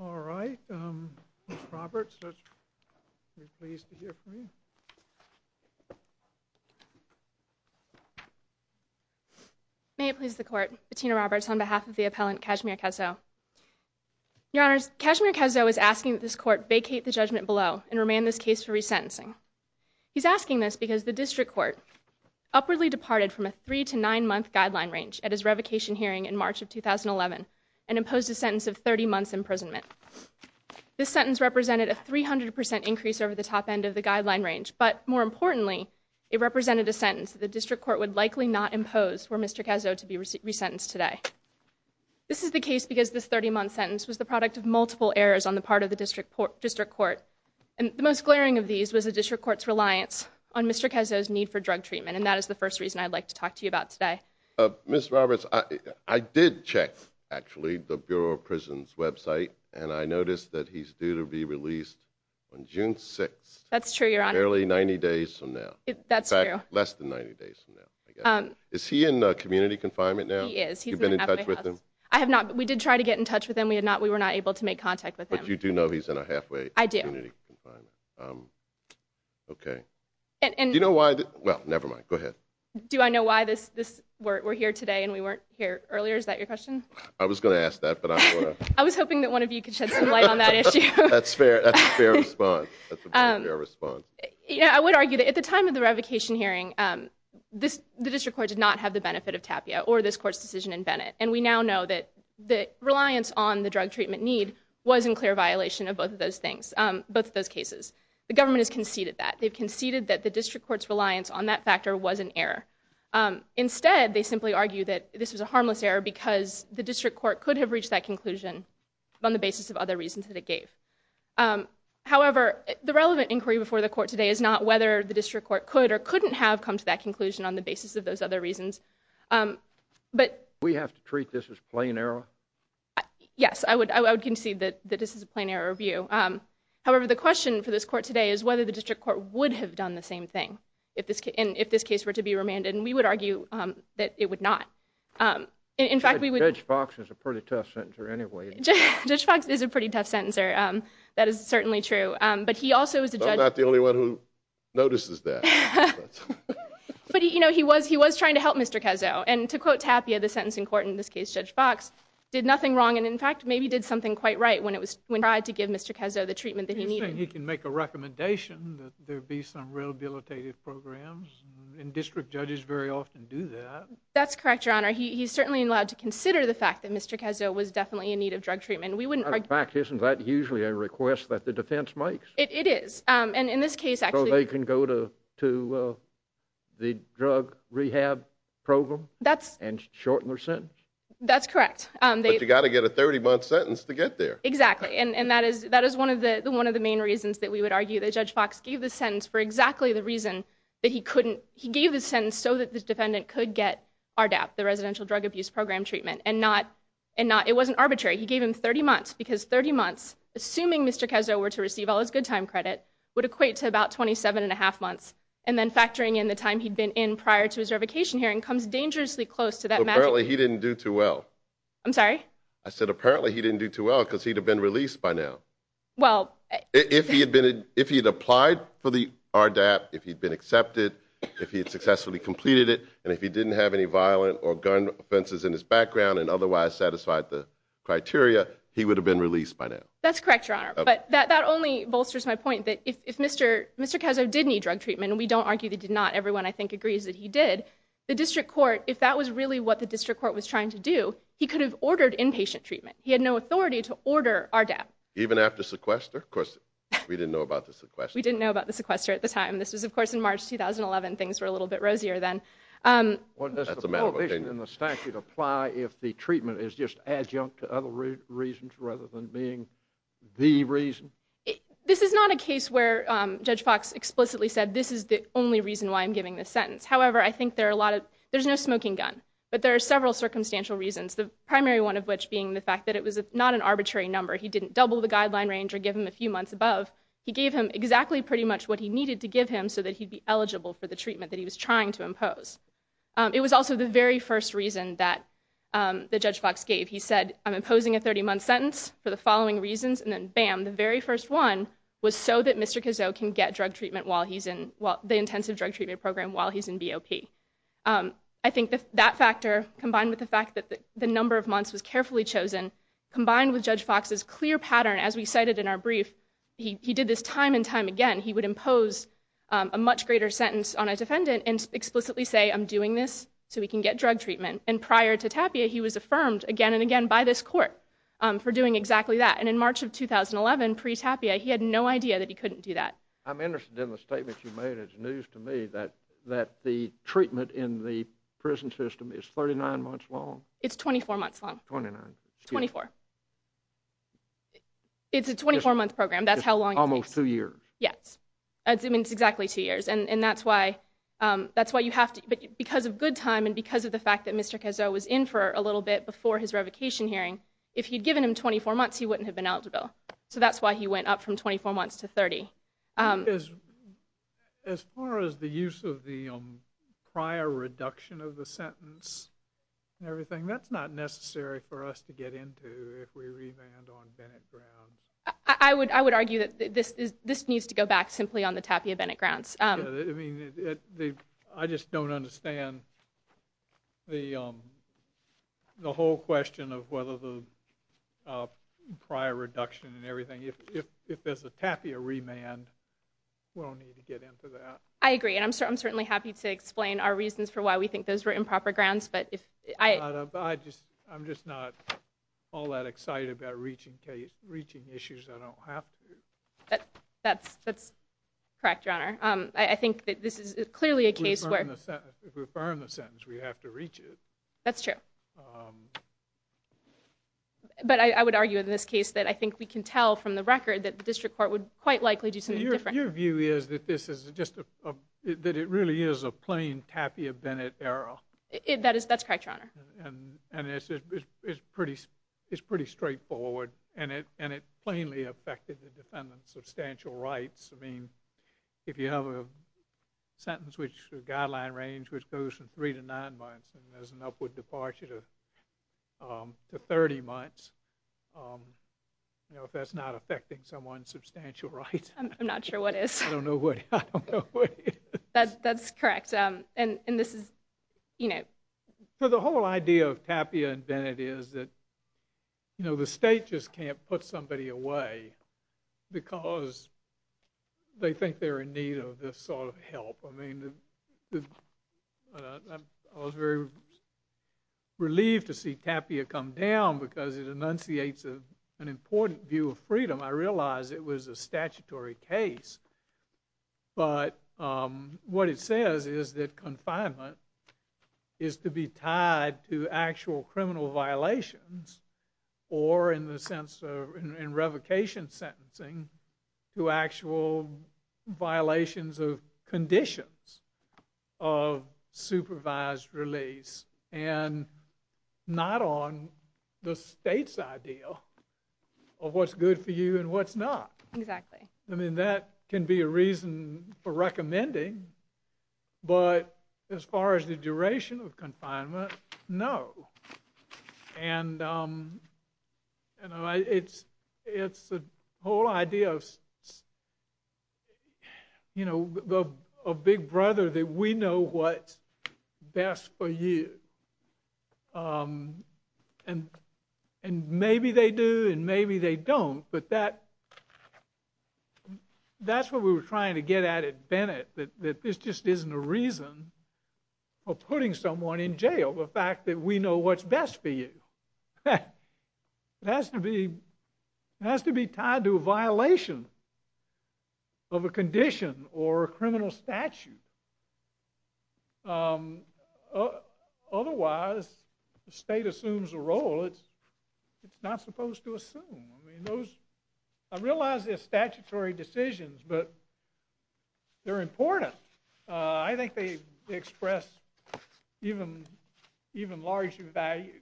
All right, Ms. Roberts, we're pleased to hear from you. May it please the Court, Bettina Roberts on behalf of the appellant Cashmere Cazeau. Your Honors, Cashmere Cazeau is asking that this Court vacate the judgment below and remand this case for resentencing. He's asking this because the District Court upwardly departed from a three to nine month guideline range at his revocation hearing in March of 2011 and imposed a sentence of 30 months imprisonment. This sentence represented a 300% increase over the top end of the guideline range, but more importantly, it represented a sentence that the District Court would likely not impose for Mr. Cazeau to be resentenced today. This is the case because this 30 month sentence was the product of multiple errors on the part of the District Court. And the most glaring of these was the District Court's reliance on Mr. Cazeau's need for drug treatment, and that is the first reason I'd like to talk to you about today. Ms. Roberts, I did check, actually, the Bureau of Prisons website, and I noticed that he's due to be released on June 6th. That's true, Your Honor. Barely 90 days from now. That's true. In fact, less than 90 days from now. Is he in community confinement now? He is. You've been in touch with him? We did try to get in touch with him. We were not able to make contact with him. But you do know he's in a halfway community confinement? Okay. Do you know why... well, never mind, go ahead. Do I know why we're here today and we weren't here earlier? Is that your question? I was going to ask that, but I don't want to... I was hoping that one of you could shed some light on that issue. That's a fair response. That's a very fair response. I would argue that at the time of the revocation hearing, the District Court did not have the benefit of Tapia or this Court's decision in Bennett. And we now know that the reliance on the drug treatment need was in clear violation of both of those things, both of those cases. The government has conceded that. They've conceded that the District Court's reliance on that factor was an error. Instead, they simply argue that this was a harmless error because the District Court could have reached that conclusion on the basis of other reasons that it gave. However, the relevant inquiry before the Court today is not whether the District Court could or couldn't have come to that conclusion on the basis of those other reasons. But... Do we have to treat this as plain error? Yes, I would concede that this is a plain error review. However, the question for this Court today is whether the District Court would have done the same thing if this case were to be remanded. And we would argue that it would not. In fact, we would... Judge Fox is a pretty tough sentencer anyway. Judge Fox is a pretty tough sentencer. That is certainly true. But he also is a judge... I'm not the only one who notices that. But, you know, he was trying to help Mr. Cazzo. And to quote Tapia, the sentencing court, in this case Judge Fox, did nothing wrong. And, in fact, maybe did something quite right when he tried to give Mr. Cazzo the treatment that he needed. You're saying he can make a recommendation that there be some rehabilitative programs? And district judges very often do that. That's correct, Your Honor. He's certainly allowed to consider the fact that Mr. Cazzo was definitely in need of drug treatment. We wouldn't argue... In fact, isn't that usually a request that the defense makes? It is. So they can go to the drug rehab program and shorten their sentence? That's correct. It's a 30-month sentence to get there. Exactly. And that is one of the main reasons that we would argue that Judge Fox gave the sentence for exactly the reason that he couldn't... He gave the sentence so that the defendant could get RDAP, the Residential Drug Abuse Program treatment, and not... It wasn't arbitrary. He gave him 30 months because 30 months, assuming Mr. Cazzo were to receive all his good time credit, would equate to about 27 and a half months. And then factoring in the time he'd been in prior to his revocation hearing comes dangerously close to that magic... Apparently he didn't do too well. I'm sorry? I said apparently he didn't do too well because he'd have been released by now. Well... If he had applied for the RDAP, if he'd been accepted, if he had successfully completed it, and if he didn't have any violent or gun offenses in his background and otherwise satisfied the criteria, he would have been released by now. That's correct, Your Honor. But that only bolsters my point that if Mr. Cazzo did need drug treatment, and we don't argue that he did not. Everyone, I think, agrees that he did. The district court, if that was really what the district court was trying to do, he could have ordered inpatient treatment. He had no authority to order RDAP. Even after sequester? Of course, we didn't know about the sequester. We didn't know about the sequester at the time. This was, of course, in March 2011. Things were a little bit rosier then. Does the prohibition in the statute apply if the treatment is just adjunct to other reasons rather than being the reason? This is not a case where Judge Fox explicitly said, this is the only reason why I'm giving this sentence. However, I think there's no smoking gun. But there are several circumstantial reasons, the primary one of which being the fact that it was not an arbitrary number. He didn't double the guideline range or give him a few months above. He gave him exactly pretty much what he needed to give him so that he'd be eligible for the treatment that he was trying to impose. It was also the very first reason that Judge Fox gave. He said, I'm imposing a 30-month sentence for the following reasons. And then, bam, the very first one was so that Mr. Cazot can get the intensive drug treatment program while he's in BOP. I think that factor, combined with the fact that the number of months was carefully chosen, combined with Judge Fox's clear pattern, as we cited in our brief, he did this time and time again. He would impose a much greater sentence on a defendant and explicitly say, I'm doing this so he can get drug treatment. And prior to Tapia, he was affirmed again and again by this court for doing exactly that. But in 2011, pre-Tapia, he had no idea that he couldn't do that. I'm interested in the statement you made. It's news to me that the treatment in the prison system is 39 months long. It's 24 months long. 24. It's a 24-month program. It's almost two years. Yes. It's exactly two years. And that's why you have to, because of good time and because of the fact that Mr. Cazot was in for a little bit before his revocation hearing, if you'd given him 24 months, he wouldn't have been eligible. So that's why he went up from 24 months to 30. As far as the use of the prior reduction of the sentence and everything, that's not necessary for us to get into if we revand on Bennett grounds. I would argue that this needs to go back simply on the Tapia Bennett grounds. I just don't understand the whole question of whether the prior reduction and everything. If there's a Tapia remand, we don't need to get into that. I agree. And I'm certainly happy to explain our reasons for why we think those were improper grounds. I'm just not all that excited about reaching issues I don't have to. That's correct, Your Honor. I think that this is clearly a case where... If we affirm the sentence, we have to reach it. That's true. But I would argue in this case that I think we can tell from the record that the district court would quite likely do something different. Your view is that it really is a plain Tapia Bennett error. That's correct, Your Honor. And it's pretty straightforward and it plainly affected the defendant's substantial rights. I mean, if you have a guideline range which goes from three to nine months and there's an upward departure to 30 months, if that's not affecting someone's substantial rights... I'm not sure what is. I don't know what it is. That's correct. The whole idea of Tapia and Bennett is that the state just can't put somebody away because they think they're in need of this sort of help. I mean, I was very relieved to see Tapia come down because it enunciates an important view of freedom. I realize it was a statutory case. But what it says is that confinement is to be tied to actual criminal violations or, in the sense of revocation sentencing, to actual violations of conditions of supervised release and not on the state's idea of what's good for you and what's not. Exactly. I mean, that can be a reason for recommending, but as far as the duration of confinement, no. And it's the whole idea of, you know, a big brother that we know what's best for you. And maybe they do and maybe they don't, but that's what we were trying to get at at Bennett, that this just isn't a reason for putting someone in jail, the fact that we know what's best for you. It has to be tied to a violation of a condition or a criminal statute. Otherwise, the state assumes a role it's not supposed to assume. I realize they're statutory decisions, but they're important. I think they express even larger values.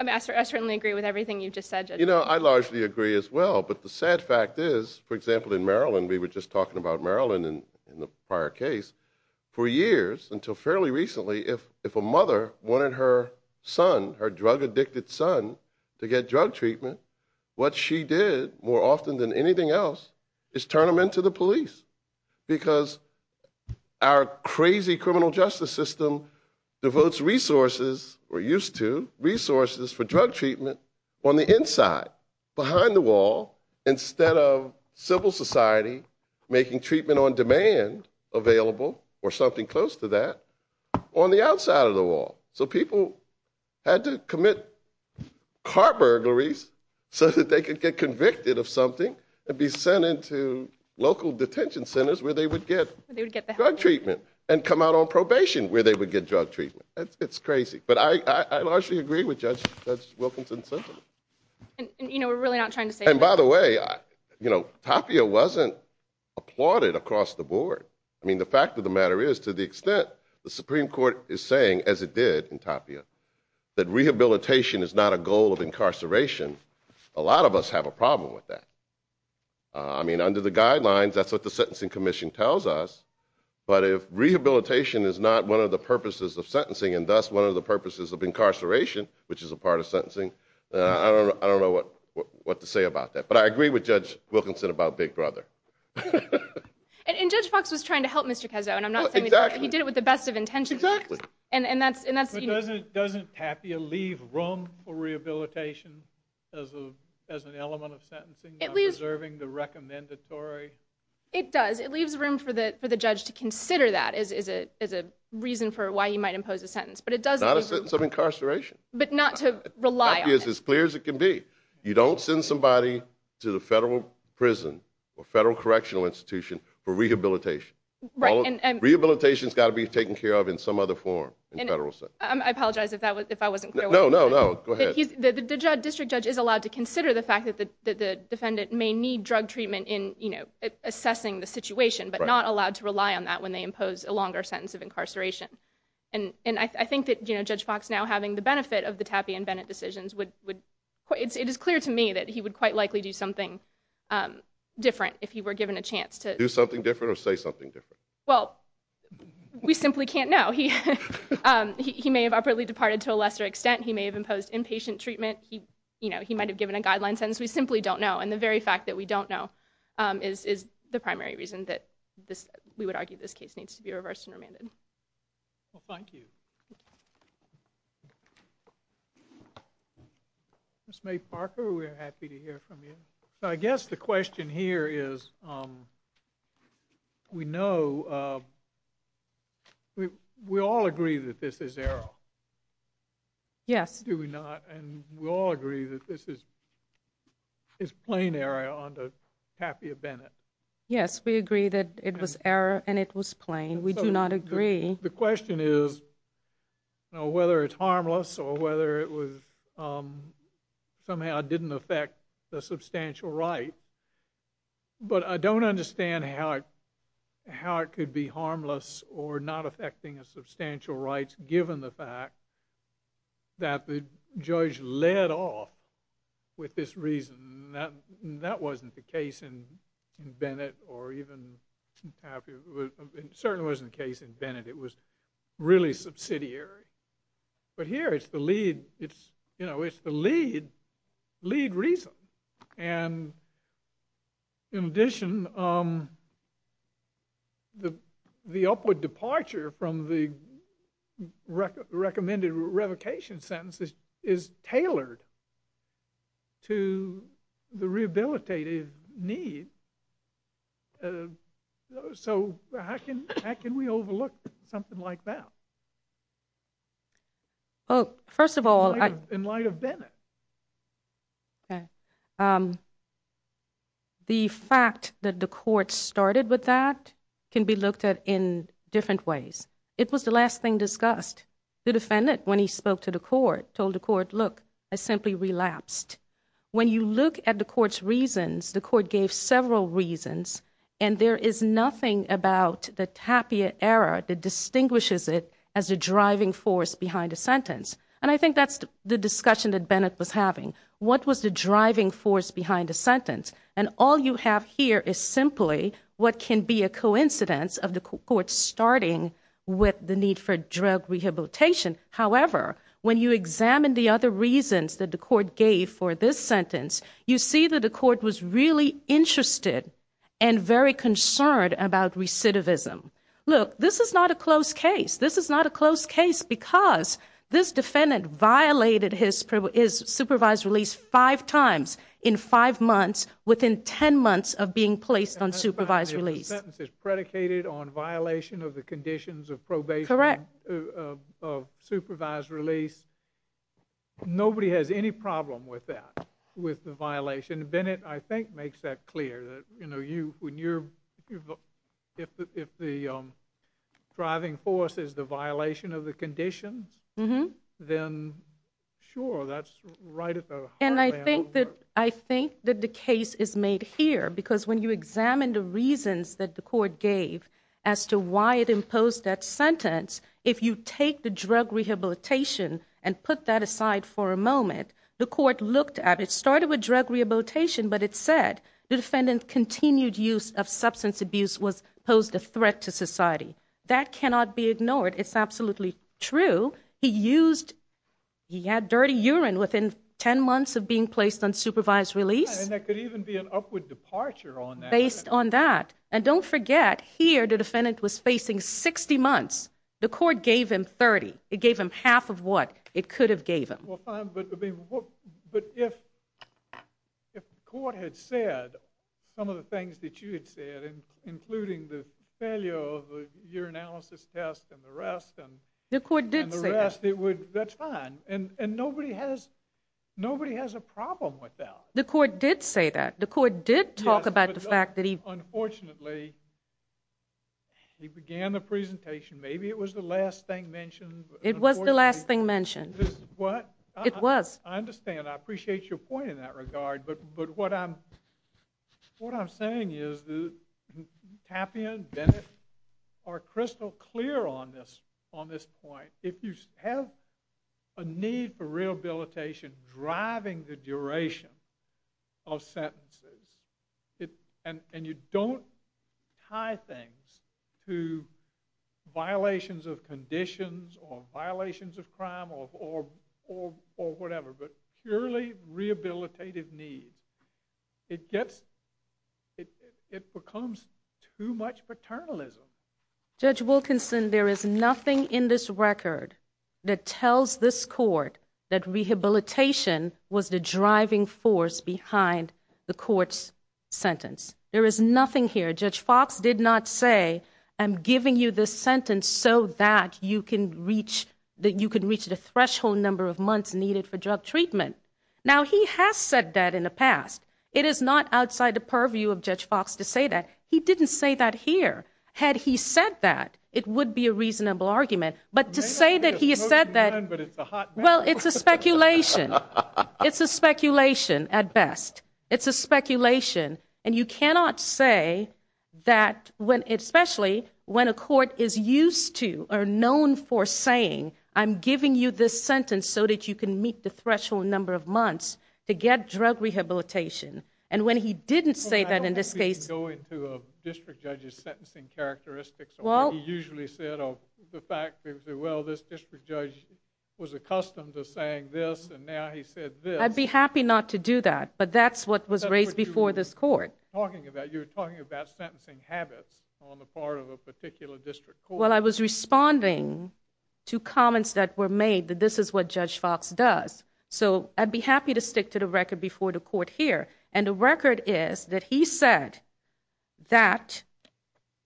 Ambassador, I certainly agree with everything you just said. You know, I largely agree as well. But the sad fact is, for example, in Maryland, we were just talking about Maryland in the prior case, for years, until fairly recently, if a mother wanted her son, her drug-addicted son, to get drug treatment, what she did, more often than anything else, is turn him in to the police. Because our crazy criminal justice system devotes resources, or used to, resources for drug treatment on the inside, behind the wall, instead of civil society making treatment on demand available, or something close to that, on the outside of the wall. So people had to commit car burglaries so that they could get convicted of something and be sent into local detention centers where they would get drug treatment, and come out on probation where they would get drug treatment. It's crazy. But I largely agree with Judge Wilkinson's sentence. And, you know, we're really not trying to say that. And by the way, you know, Tapia wasn't applauded across the board. I mean, the fact of the matter is, to the extent the Supreme Court is saying, as it did in Tapia, that rehabilitation is not a goal of incarceration, a lot of us have a problem with that. I mean, under the guidelines, that's what the Sentencing Commission tells us, but if rehabilitation is not one of the purposes of sentencing, and thus one of the purposes of incarceration, which is a part of sentencing, I don't know what to say about that. But I agree with Judge Wilkinson about Big Brother. And Judge Fox was trying to help Mr. Kezzo, and I'm not saying he did it with the best of intentions. Exactly. But doesn't Tapia leave room for rehabilitation as an element of sentencing, preserving the recommendatory... It does. It leaves room for the judge to consider that as a reason for why he might impose a sentence. Not a sentence of incarceration. But not to rely on it. It's as simple as it can be. You don't send somebody to the federal prison or federal correctional institution for rehabilitation. Rehabilitation's got to be taken care of in some other form. I apologize if I wasn't clear. No, no, go ahead. The district judge is allowed to consider the fact that the defendant may need drug treatment in assessing the situation, but not allowed to rely on that when they impose a longer sentence of incarceration. And I think that Judge Fox now having the benefit of the Tapia and Bennett decisions would... It is clear to me that he would quite likely do something different if he were given a chance to... Do something different or say something different? Well, we simply can't know. He may have abruptly departed to a lesser extent. He may have imposed inpatient treatment. He might have given a guideline sentence. We simply don't know. And the very fact that we don't know is the primary reason that we would argue this case needs to be reversed and remanded. Well, thank you. Ms. May Parker, we're happy to hear from you. I guess the question here is, we know... We all agree that this is error. Yes. Do we not? And we all agree that this is plain error under Tapia-Bennett. Yes, we agree that it was error and it was plain. We do not agree... The question is whether it's harmless or whether it was... Somehow it didn't affect the substantial right. But I don't understand how it could be harmless or not affecting a substantial right given the fact that the judge led off with this reason. That wasn't the case in Bennett or even Tapia. It certainly wasn't the case in Bennett. It was really subsidiary. But here it's the lead reason. And in addition, the upward departure from the recommended revocation sentence is tailored to the rehabilitative need. So how can we overlook something like that? Well, first of all... In light of Bennett. Okay. The fact that the court started with that can be looked at in different ways. It was the last thing discussed. The defendant, when he spoke to the court, told the court, look, I simply relapsed. When you look at the court's reasons, the court gave several reasons. And there is nothing about the Tapia error that distinguishes it as a driving force behind a sentence. And I think that's the discussion that Bennett was having. What was the driving force behind the sentence? And all you have here is simply what can be a coincidence of the court starting with the need for drug rehabilitation. However, when you examine the other reasons that the court gave for this sentence, you see that the court was really interested and very concerned about recidivism. Look, this is not a close case. This is not a close case because this defendant violated his supervised release five times in five months, within ten months of being placed on supervised release. The sentence is predicated on violation of the conditions of probation of supervised release. Nobody has any problem with that, with the violation. Bennett, I think, makes that clear. If the driving force is the violation of the conditions, then sure, that's right at the heart of that whole work. And I think that the case is made here because when you examine the reasons that the court gave as to why it imposed that sentence, if you take the drug rehabilitation and put that aside for a moment, the court looked at it. It started with drug rehabilitation, but it said the defendant's continued use of substance abuse posed a threat to society. That cannot be ignored. It's absolutely true. He had dirty urine within ten months of being placed on supervised release. And there could even be an upward departure on that. Based on that. And don't forget, here the defendant was facing 60 months. The court gave him 30. It gave him half of what it could have gave him. But if the court had said some of the things that you had said, including the failure of the urinalysis test and the rest. The court did say that. That's fine. And nobody has a problem with that. The court did say that. The court did talk about the fact that he. Unfortunately, he began the presentation. Maybe it was the last thing mentioned. It was the last thing mentioned. It was. I understand. I appreciate your point in that regard. But what I'm saying is that Tapia and Bennett are crystal clear on this point. If you have a need for rehabilitation driving the duration of sentences. And you don't tie things to violations of conditions or violations of crime or whatever. But purely rehabilitative needs. It becomes too much paternalism. Judge Wilkinson, there is nothing in this record that tells this court that rehabilitation was the driving force behind the court's sentence. There is nothing here. Judge Fox did not say, I'm giving you this sentence so that you can reach the threshold number of months needed for drug treatment. Now, he has said that in the past. It is not outside the purview of Judge Fox to say that. He didn't say that here. Had he said that, it would be a reasonable argument. But to say that he said that. Well, it's a speculation. It's a speculation at best. It's a speculation. And you cannot say that when, especially when a court is used to or known for saying, I'm giving you this sentence so that you can meet the threshold number of months to get drug rehabilitation. And when he didn't say that in this case. Well, I don't think we can go into a district judge's sentencing characteristics or what he usually said of the fact that, well, this district judge was accustomed to saying this, and now he said this. I'd be happy not to do that. But that's what was raised before this court. That's what you were talking about. You were talking about sentencing habits on the part of a particular district court. Well, I was responding to comments that were made that this is what Judge Fox does. So I'd be happy to stick to the record before the court here. And the record is that he said that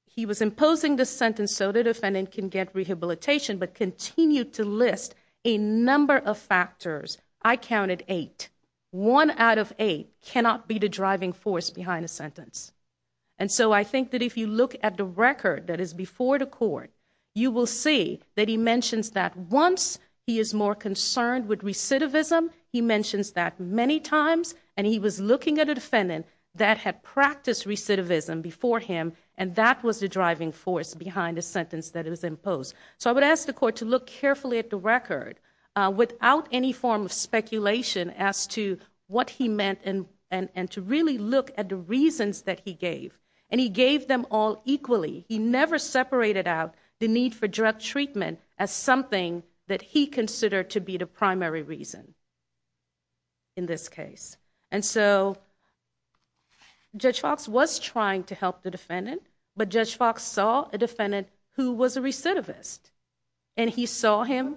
he was imposing this sentence so the defendant can get rehabilitation, but continued to list a number of factors. I counted eight. One out of eight cannot be the driving force behind a sentence. And so I think that if you look at the record that is before the court, you will see that he mentions that once he is more concerned with recidivism, he mentions that many times, and he was looking at a defendant that had practiced recidivism before him, and that was the driving force behind the sentence that it was imposed. So I would ask the court to look carefully at the record without any form of speculation as to what he meant, and to really look at the reasons that he gave. And he gave them all equally. He never separated out the need for direct treatment as something that he considered to be the primary reason in this case. And so Judge Fox was trying to help the defendant, but Judge Fox saw a defendant who was a recidivist, and he saw him...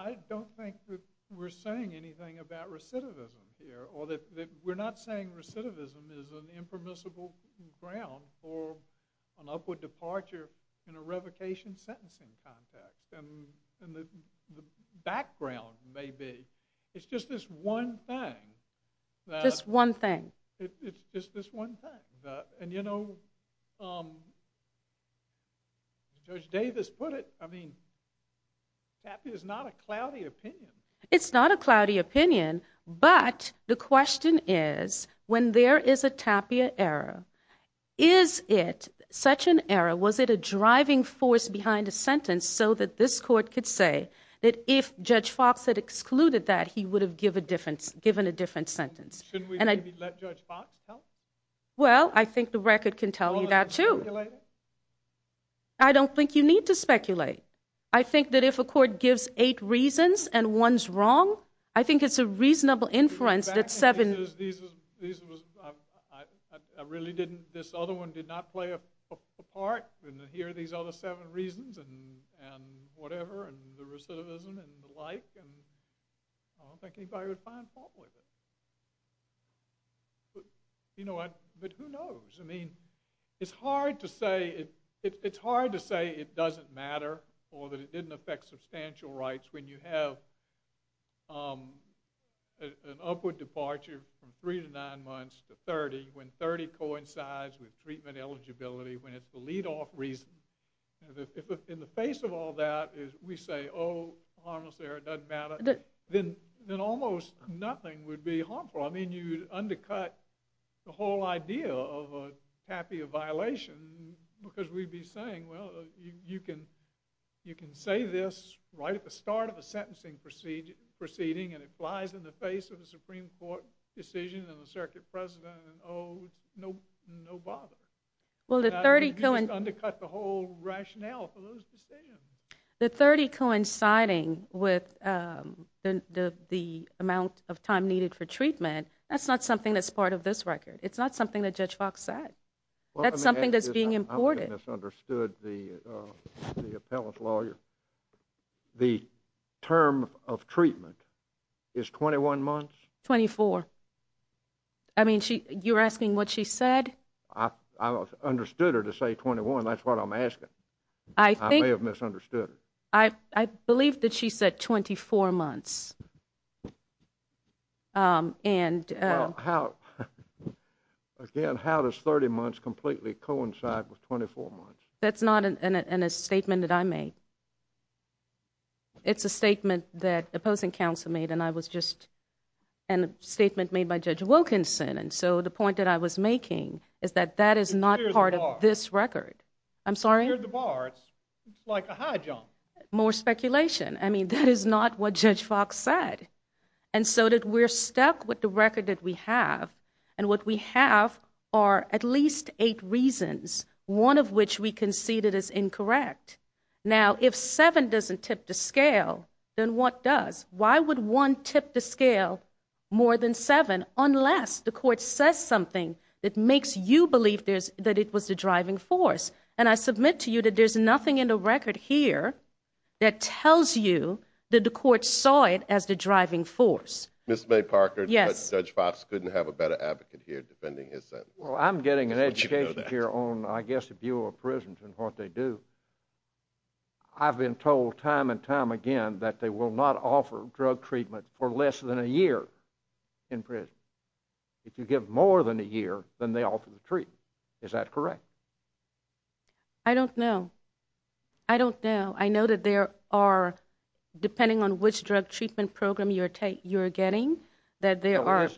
I don't think that we're saying anything about recidivism here, or that we're not saying recidivism is an impermissible ground for an upward departure in a revocation sentencing context. And the background may be, it's just this one thing that... Just one thing. It's just this one thing. And you know, Judge Davis put it, I mean, tapia is not a cloudy opinion. It's not a cloudy opinion, but the question is, when there is a tapia error, is it such an error? Was it a driving force behind a sentence so that this court could say that if Judge Fox had excluded that, he would have given a different sentence? And I... Well, I think the record can tell you that too. I don't think you need to speculate. I think that if a court gives eight reasons and one's wrong, I think it's a reasonable inference that seven... Because these was... I really didn't... This other one did not play a part in hearing these other seven reasons and whatever, and the recidivism and the like. I don't think anybody would find fault with it. But you know what? But who knows? I mean, it's hard to say it doesn't matter or that it didn't affect substantial rights when you have an upward departure from three to nine months to 30 when 30 coincides with treatment eligibility when it's the lead-off reason. If in the face of all that we say, oh, harmless error, it doesn't matter, then almost nothing would be harmful. I mean, you'd undercut the whole idea of a tapia violation because we'd be saying, well, you can say this right at the start of the sentencing meeting and it flies in the face of a Supreme Court decision and the circuit president and oh, no bother. You'd just undercut the whole rationale for those decisions. The 30 coinciding with the amount of time needed for treatment, that's not something that's part of this record. It's not something that Judge Fox said. That's something that's being imported. I think I misunderstood the appellant lawyer. Is 21 months? 24. I mean, you're asking what she said? I understood her to say 21. That's what I'm asking. I may have misunderstood her. I believe that she said 24 months. Again, how does 30 months completely coincide with 24 months? That's not in a statement that I made. It's a statement that opposing counsel made and I was just, a statement made by Judge Wilkinson and so the point that I was making is that that is not part of this record. I'm sorry? More speculation. I mean, that is not what Judge Fox said. And so that we're stuck with the record that we have and what we have are at least eight reasons, one of which we concede it is incorrect. Now, if seven doesn't tip the scale, then what does? Why would one tip the scale more than seven unless the court says something that makes you believe that it was the driving force? And I submit to you that there's nothing in the record here that tells you that the court saw it as the driving force. Ms. May Parker, Judge Fox couldn't have a better advocate here defending his sentence. Well, I'm getting an education here on, I guess, the view of prisons and what they do. I've been told time and time again that they will not offer drug treatment for less than a year in prison. If you give more than a year, then they offer the treatment. Is that correct? I don't know. I don't know. I know that there are, depending on which drug treatment program you're getting, that there are...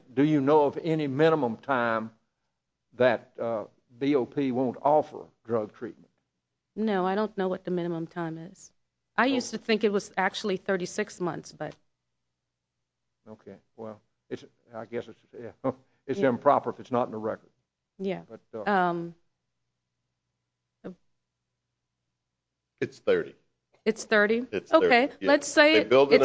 that BOP won't offer drug treatment. No, I don't know what the minimum time is. I used to think it was actually 36 months, but... Okay, well, I guess it's improper if it's not in the record. Yeah. It's 30. It's 30? Okay, let's say it's 30 to... They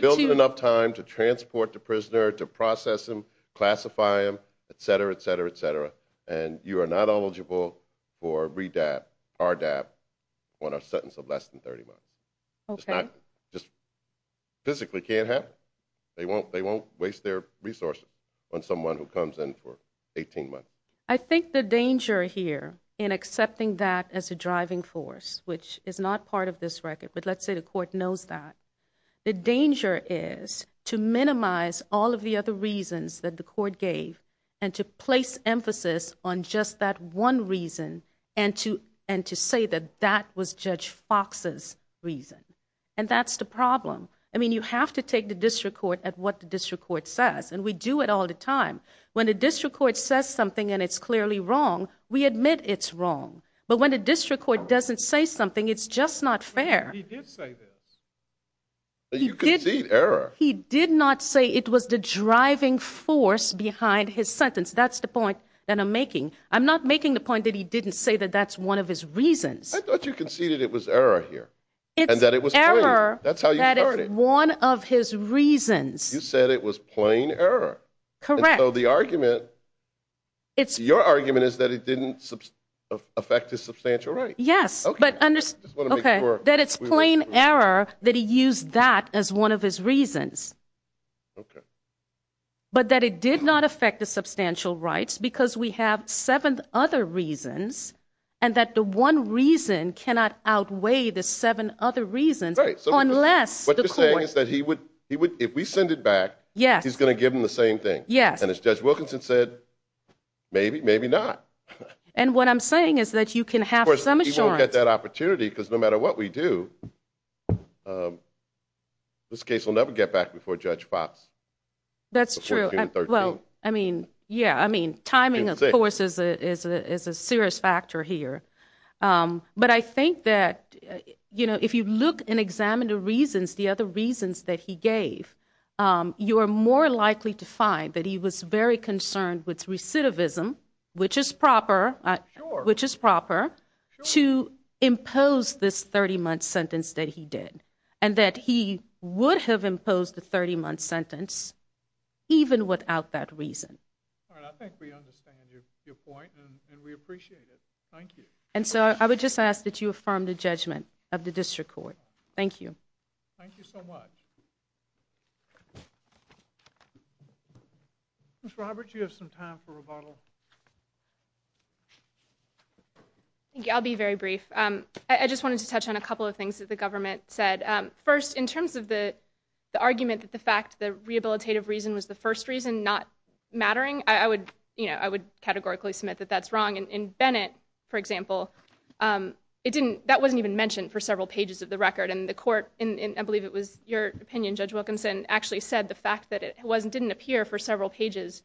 build in enough time to transport the prisoner, to process him, classify him, et cetera, et cetera, et cetera, and you are not eligible for RDAB on a sentence of less than 30 months. Okay. It just physically can't happen. They won't waste their resources on someone who comes in for 18 months. I think the danger here in accepting that as a driving force, which is not part of this record, but let's say the court knows that, the danger is to minimize all of the other reasons that the court gave and to place emphasis on just that one reason and to say that that was Judge Fox's reason. And that's the problem. I mean, you have to take the district court at what the district court says, and we do it all the time. When the district court says something and it's clearly wrong, we admit it's wrong. But when the district court doesn't say something, it's just not fair. He did say this. But you concede error. He did not say it was the driving force behind his sentence. That's the point that I'm making. I'm not making the point that he didn't say that that's one of his reasons. I thought you conceded it was error here and that it was plain. It's error that is one of his reasons. You said it was plain error. Correct. And so the argument, your argument is that it didn't affect his substantial rights. Yes. Okay. That it's plain error that he used that as one of his reasons. Okay. But that it did not affect the substantial rights because we have seven other reasons and that the one reason cannot outweigh the seven other reasons unless the court What you're saying is that if we send it back, he's going to give them the same thing. Yes. And as Judge Wilkinson said, maybe, maybe not. And what I'm saying is that you can have some assurance. Of course, he won't get that opportunity because no matter what we do, this case will never get back before Judge Fox. That's true. Well, I mean, yeah, I mean, timing of course is a serious factor here. But I think that, you know, if you look and examine the reasons, the other reasons that he gave, you are more likely to find that he was very concerned with recidivism, which is proper, which is proper to impose this 30-month sentence that he did and that he would have imposed the 30-month sentence even without that reason. All right. I think we understand your point and we appreciate it. Thank you. And so I would just ask that you affirm the judgment of the district court. Thank you. Thank you so much. Ms. Roberts, you have some time for rebuttal. Thank you. I'll be very brief. I just wanted to touch on a couple of things that the government said. First, in terms of the argument that the fact the rehabilitative reason was the first reason not mattering, I would, you know, I would categorically submit that that's wrong. In Bennett, for example, it didn't, that wasn't even mentioned for several pages of the record and the court, and I believe it was your opinion, Judge Wilkinson, actually said the fact that it wasn't, didn't appear for several pages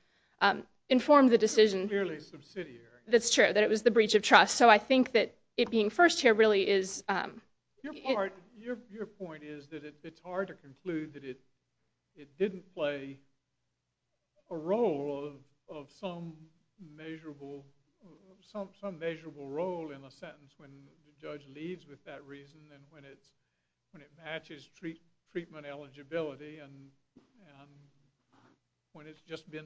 informed the decision. Clearly subsidiary. That's true, that it was the breach of trust. So I think that it being first here really is... Your part, your point is that it's hard to conclude that it didn't play a role of some measurable, some measurable role in a sentence when the judge leaves with that reason and when it's, when it matches treatment eligibility and, and when it's just been,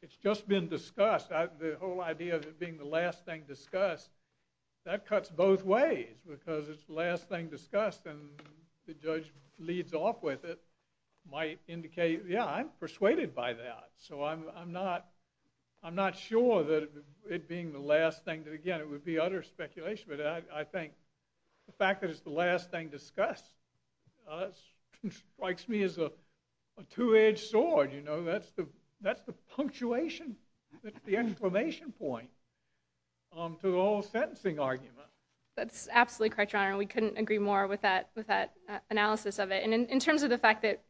it's just been discussed. I, the whole idea of it being the last thing discussed, that cuts both ways because it's the last thing discussed and the judge leads off with it might indicate, yeah, I'm persuaded by that. So I'm, I'm not, I'm not sure that it being the last thing, that again, it would be utter speculation, but I, I think the fact that it's the last thing discussed strikes me as a, a two-edged sword, you know, that's the, that's the punctuation, the information point to the whole sentencing argument. That's absolutely correct, Your Honor. We couldn't agree more with that, with that analysis of it and in terms of the fact that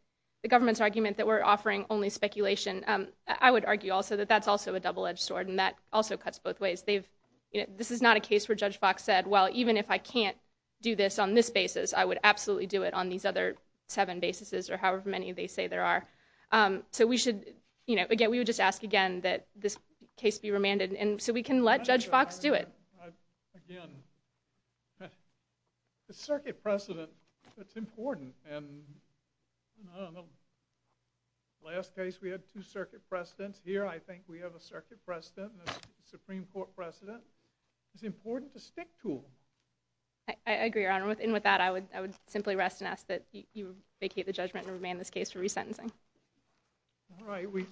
the government's argument that we're offering only speculation, I would argue also that that's also a double-edged sword and that also cuts both ways. They've, this is not a case where Judge Fox said, well, even if I can't do this on this basis, I would absolutely do it on these other seven basis or however many they say there are. Um, so we should, you know, again, we would just ask again that this case be remanded and so we can let Judge Fox do it. Again, the circuit precedent, that's important and, I don't know, last case we had we have a circuit precedent and a Supreme Court precedent. It's important to stick to them. I, I agree, Your Honor, with the circuit precedent and the Supreme Court precedent. And with that, I would, I would simply rest and ask that you vacate the judgment and remand this case for resentencing. All right. We,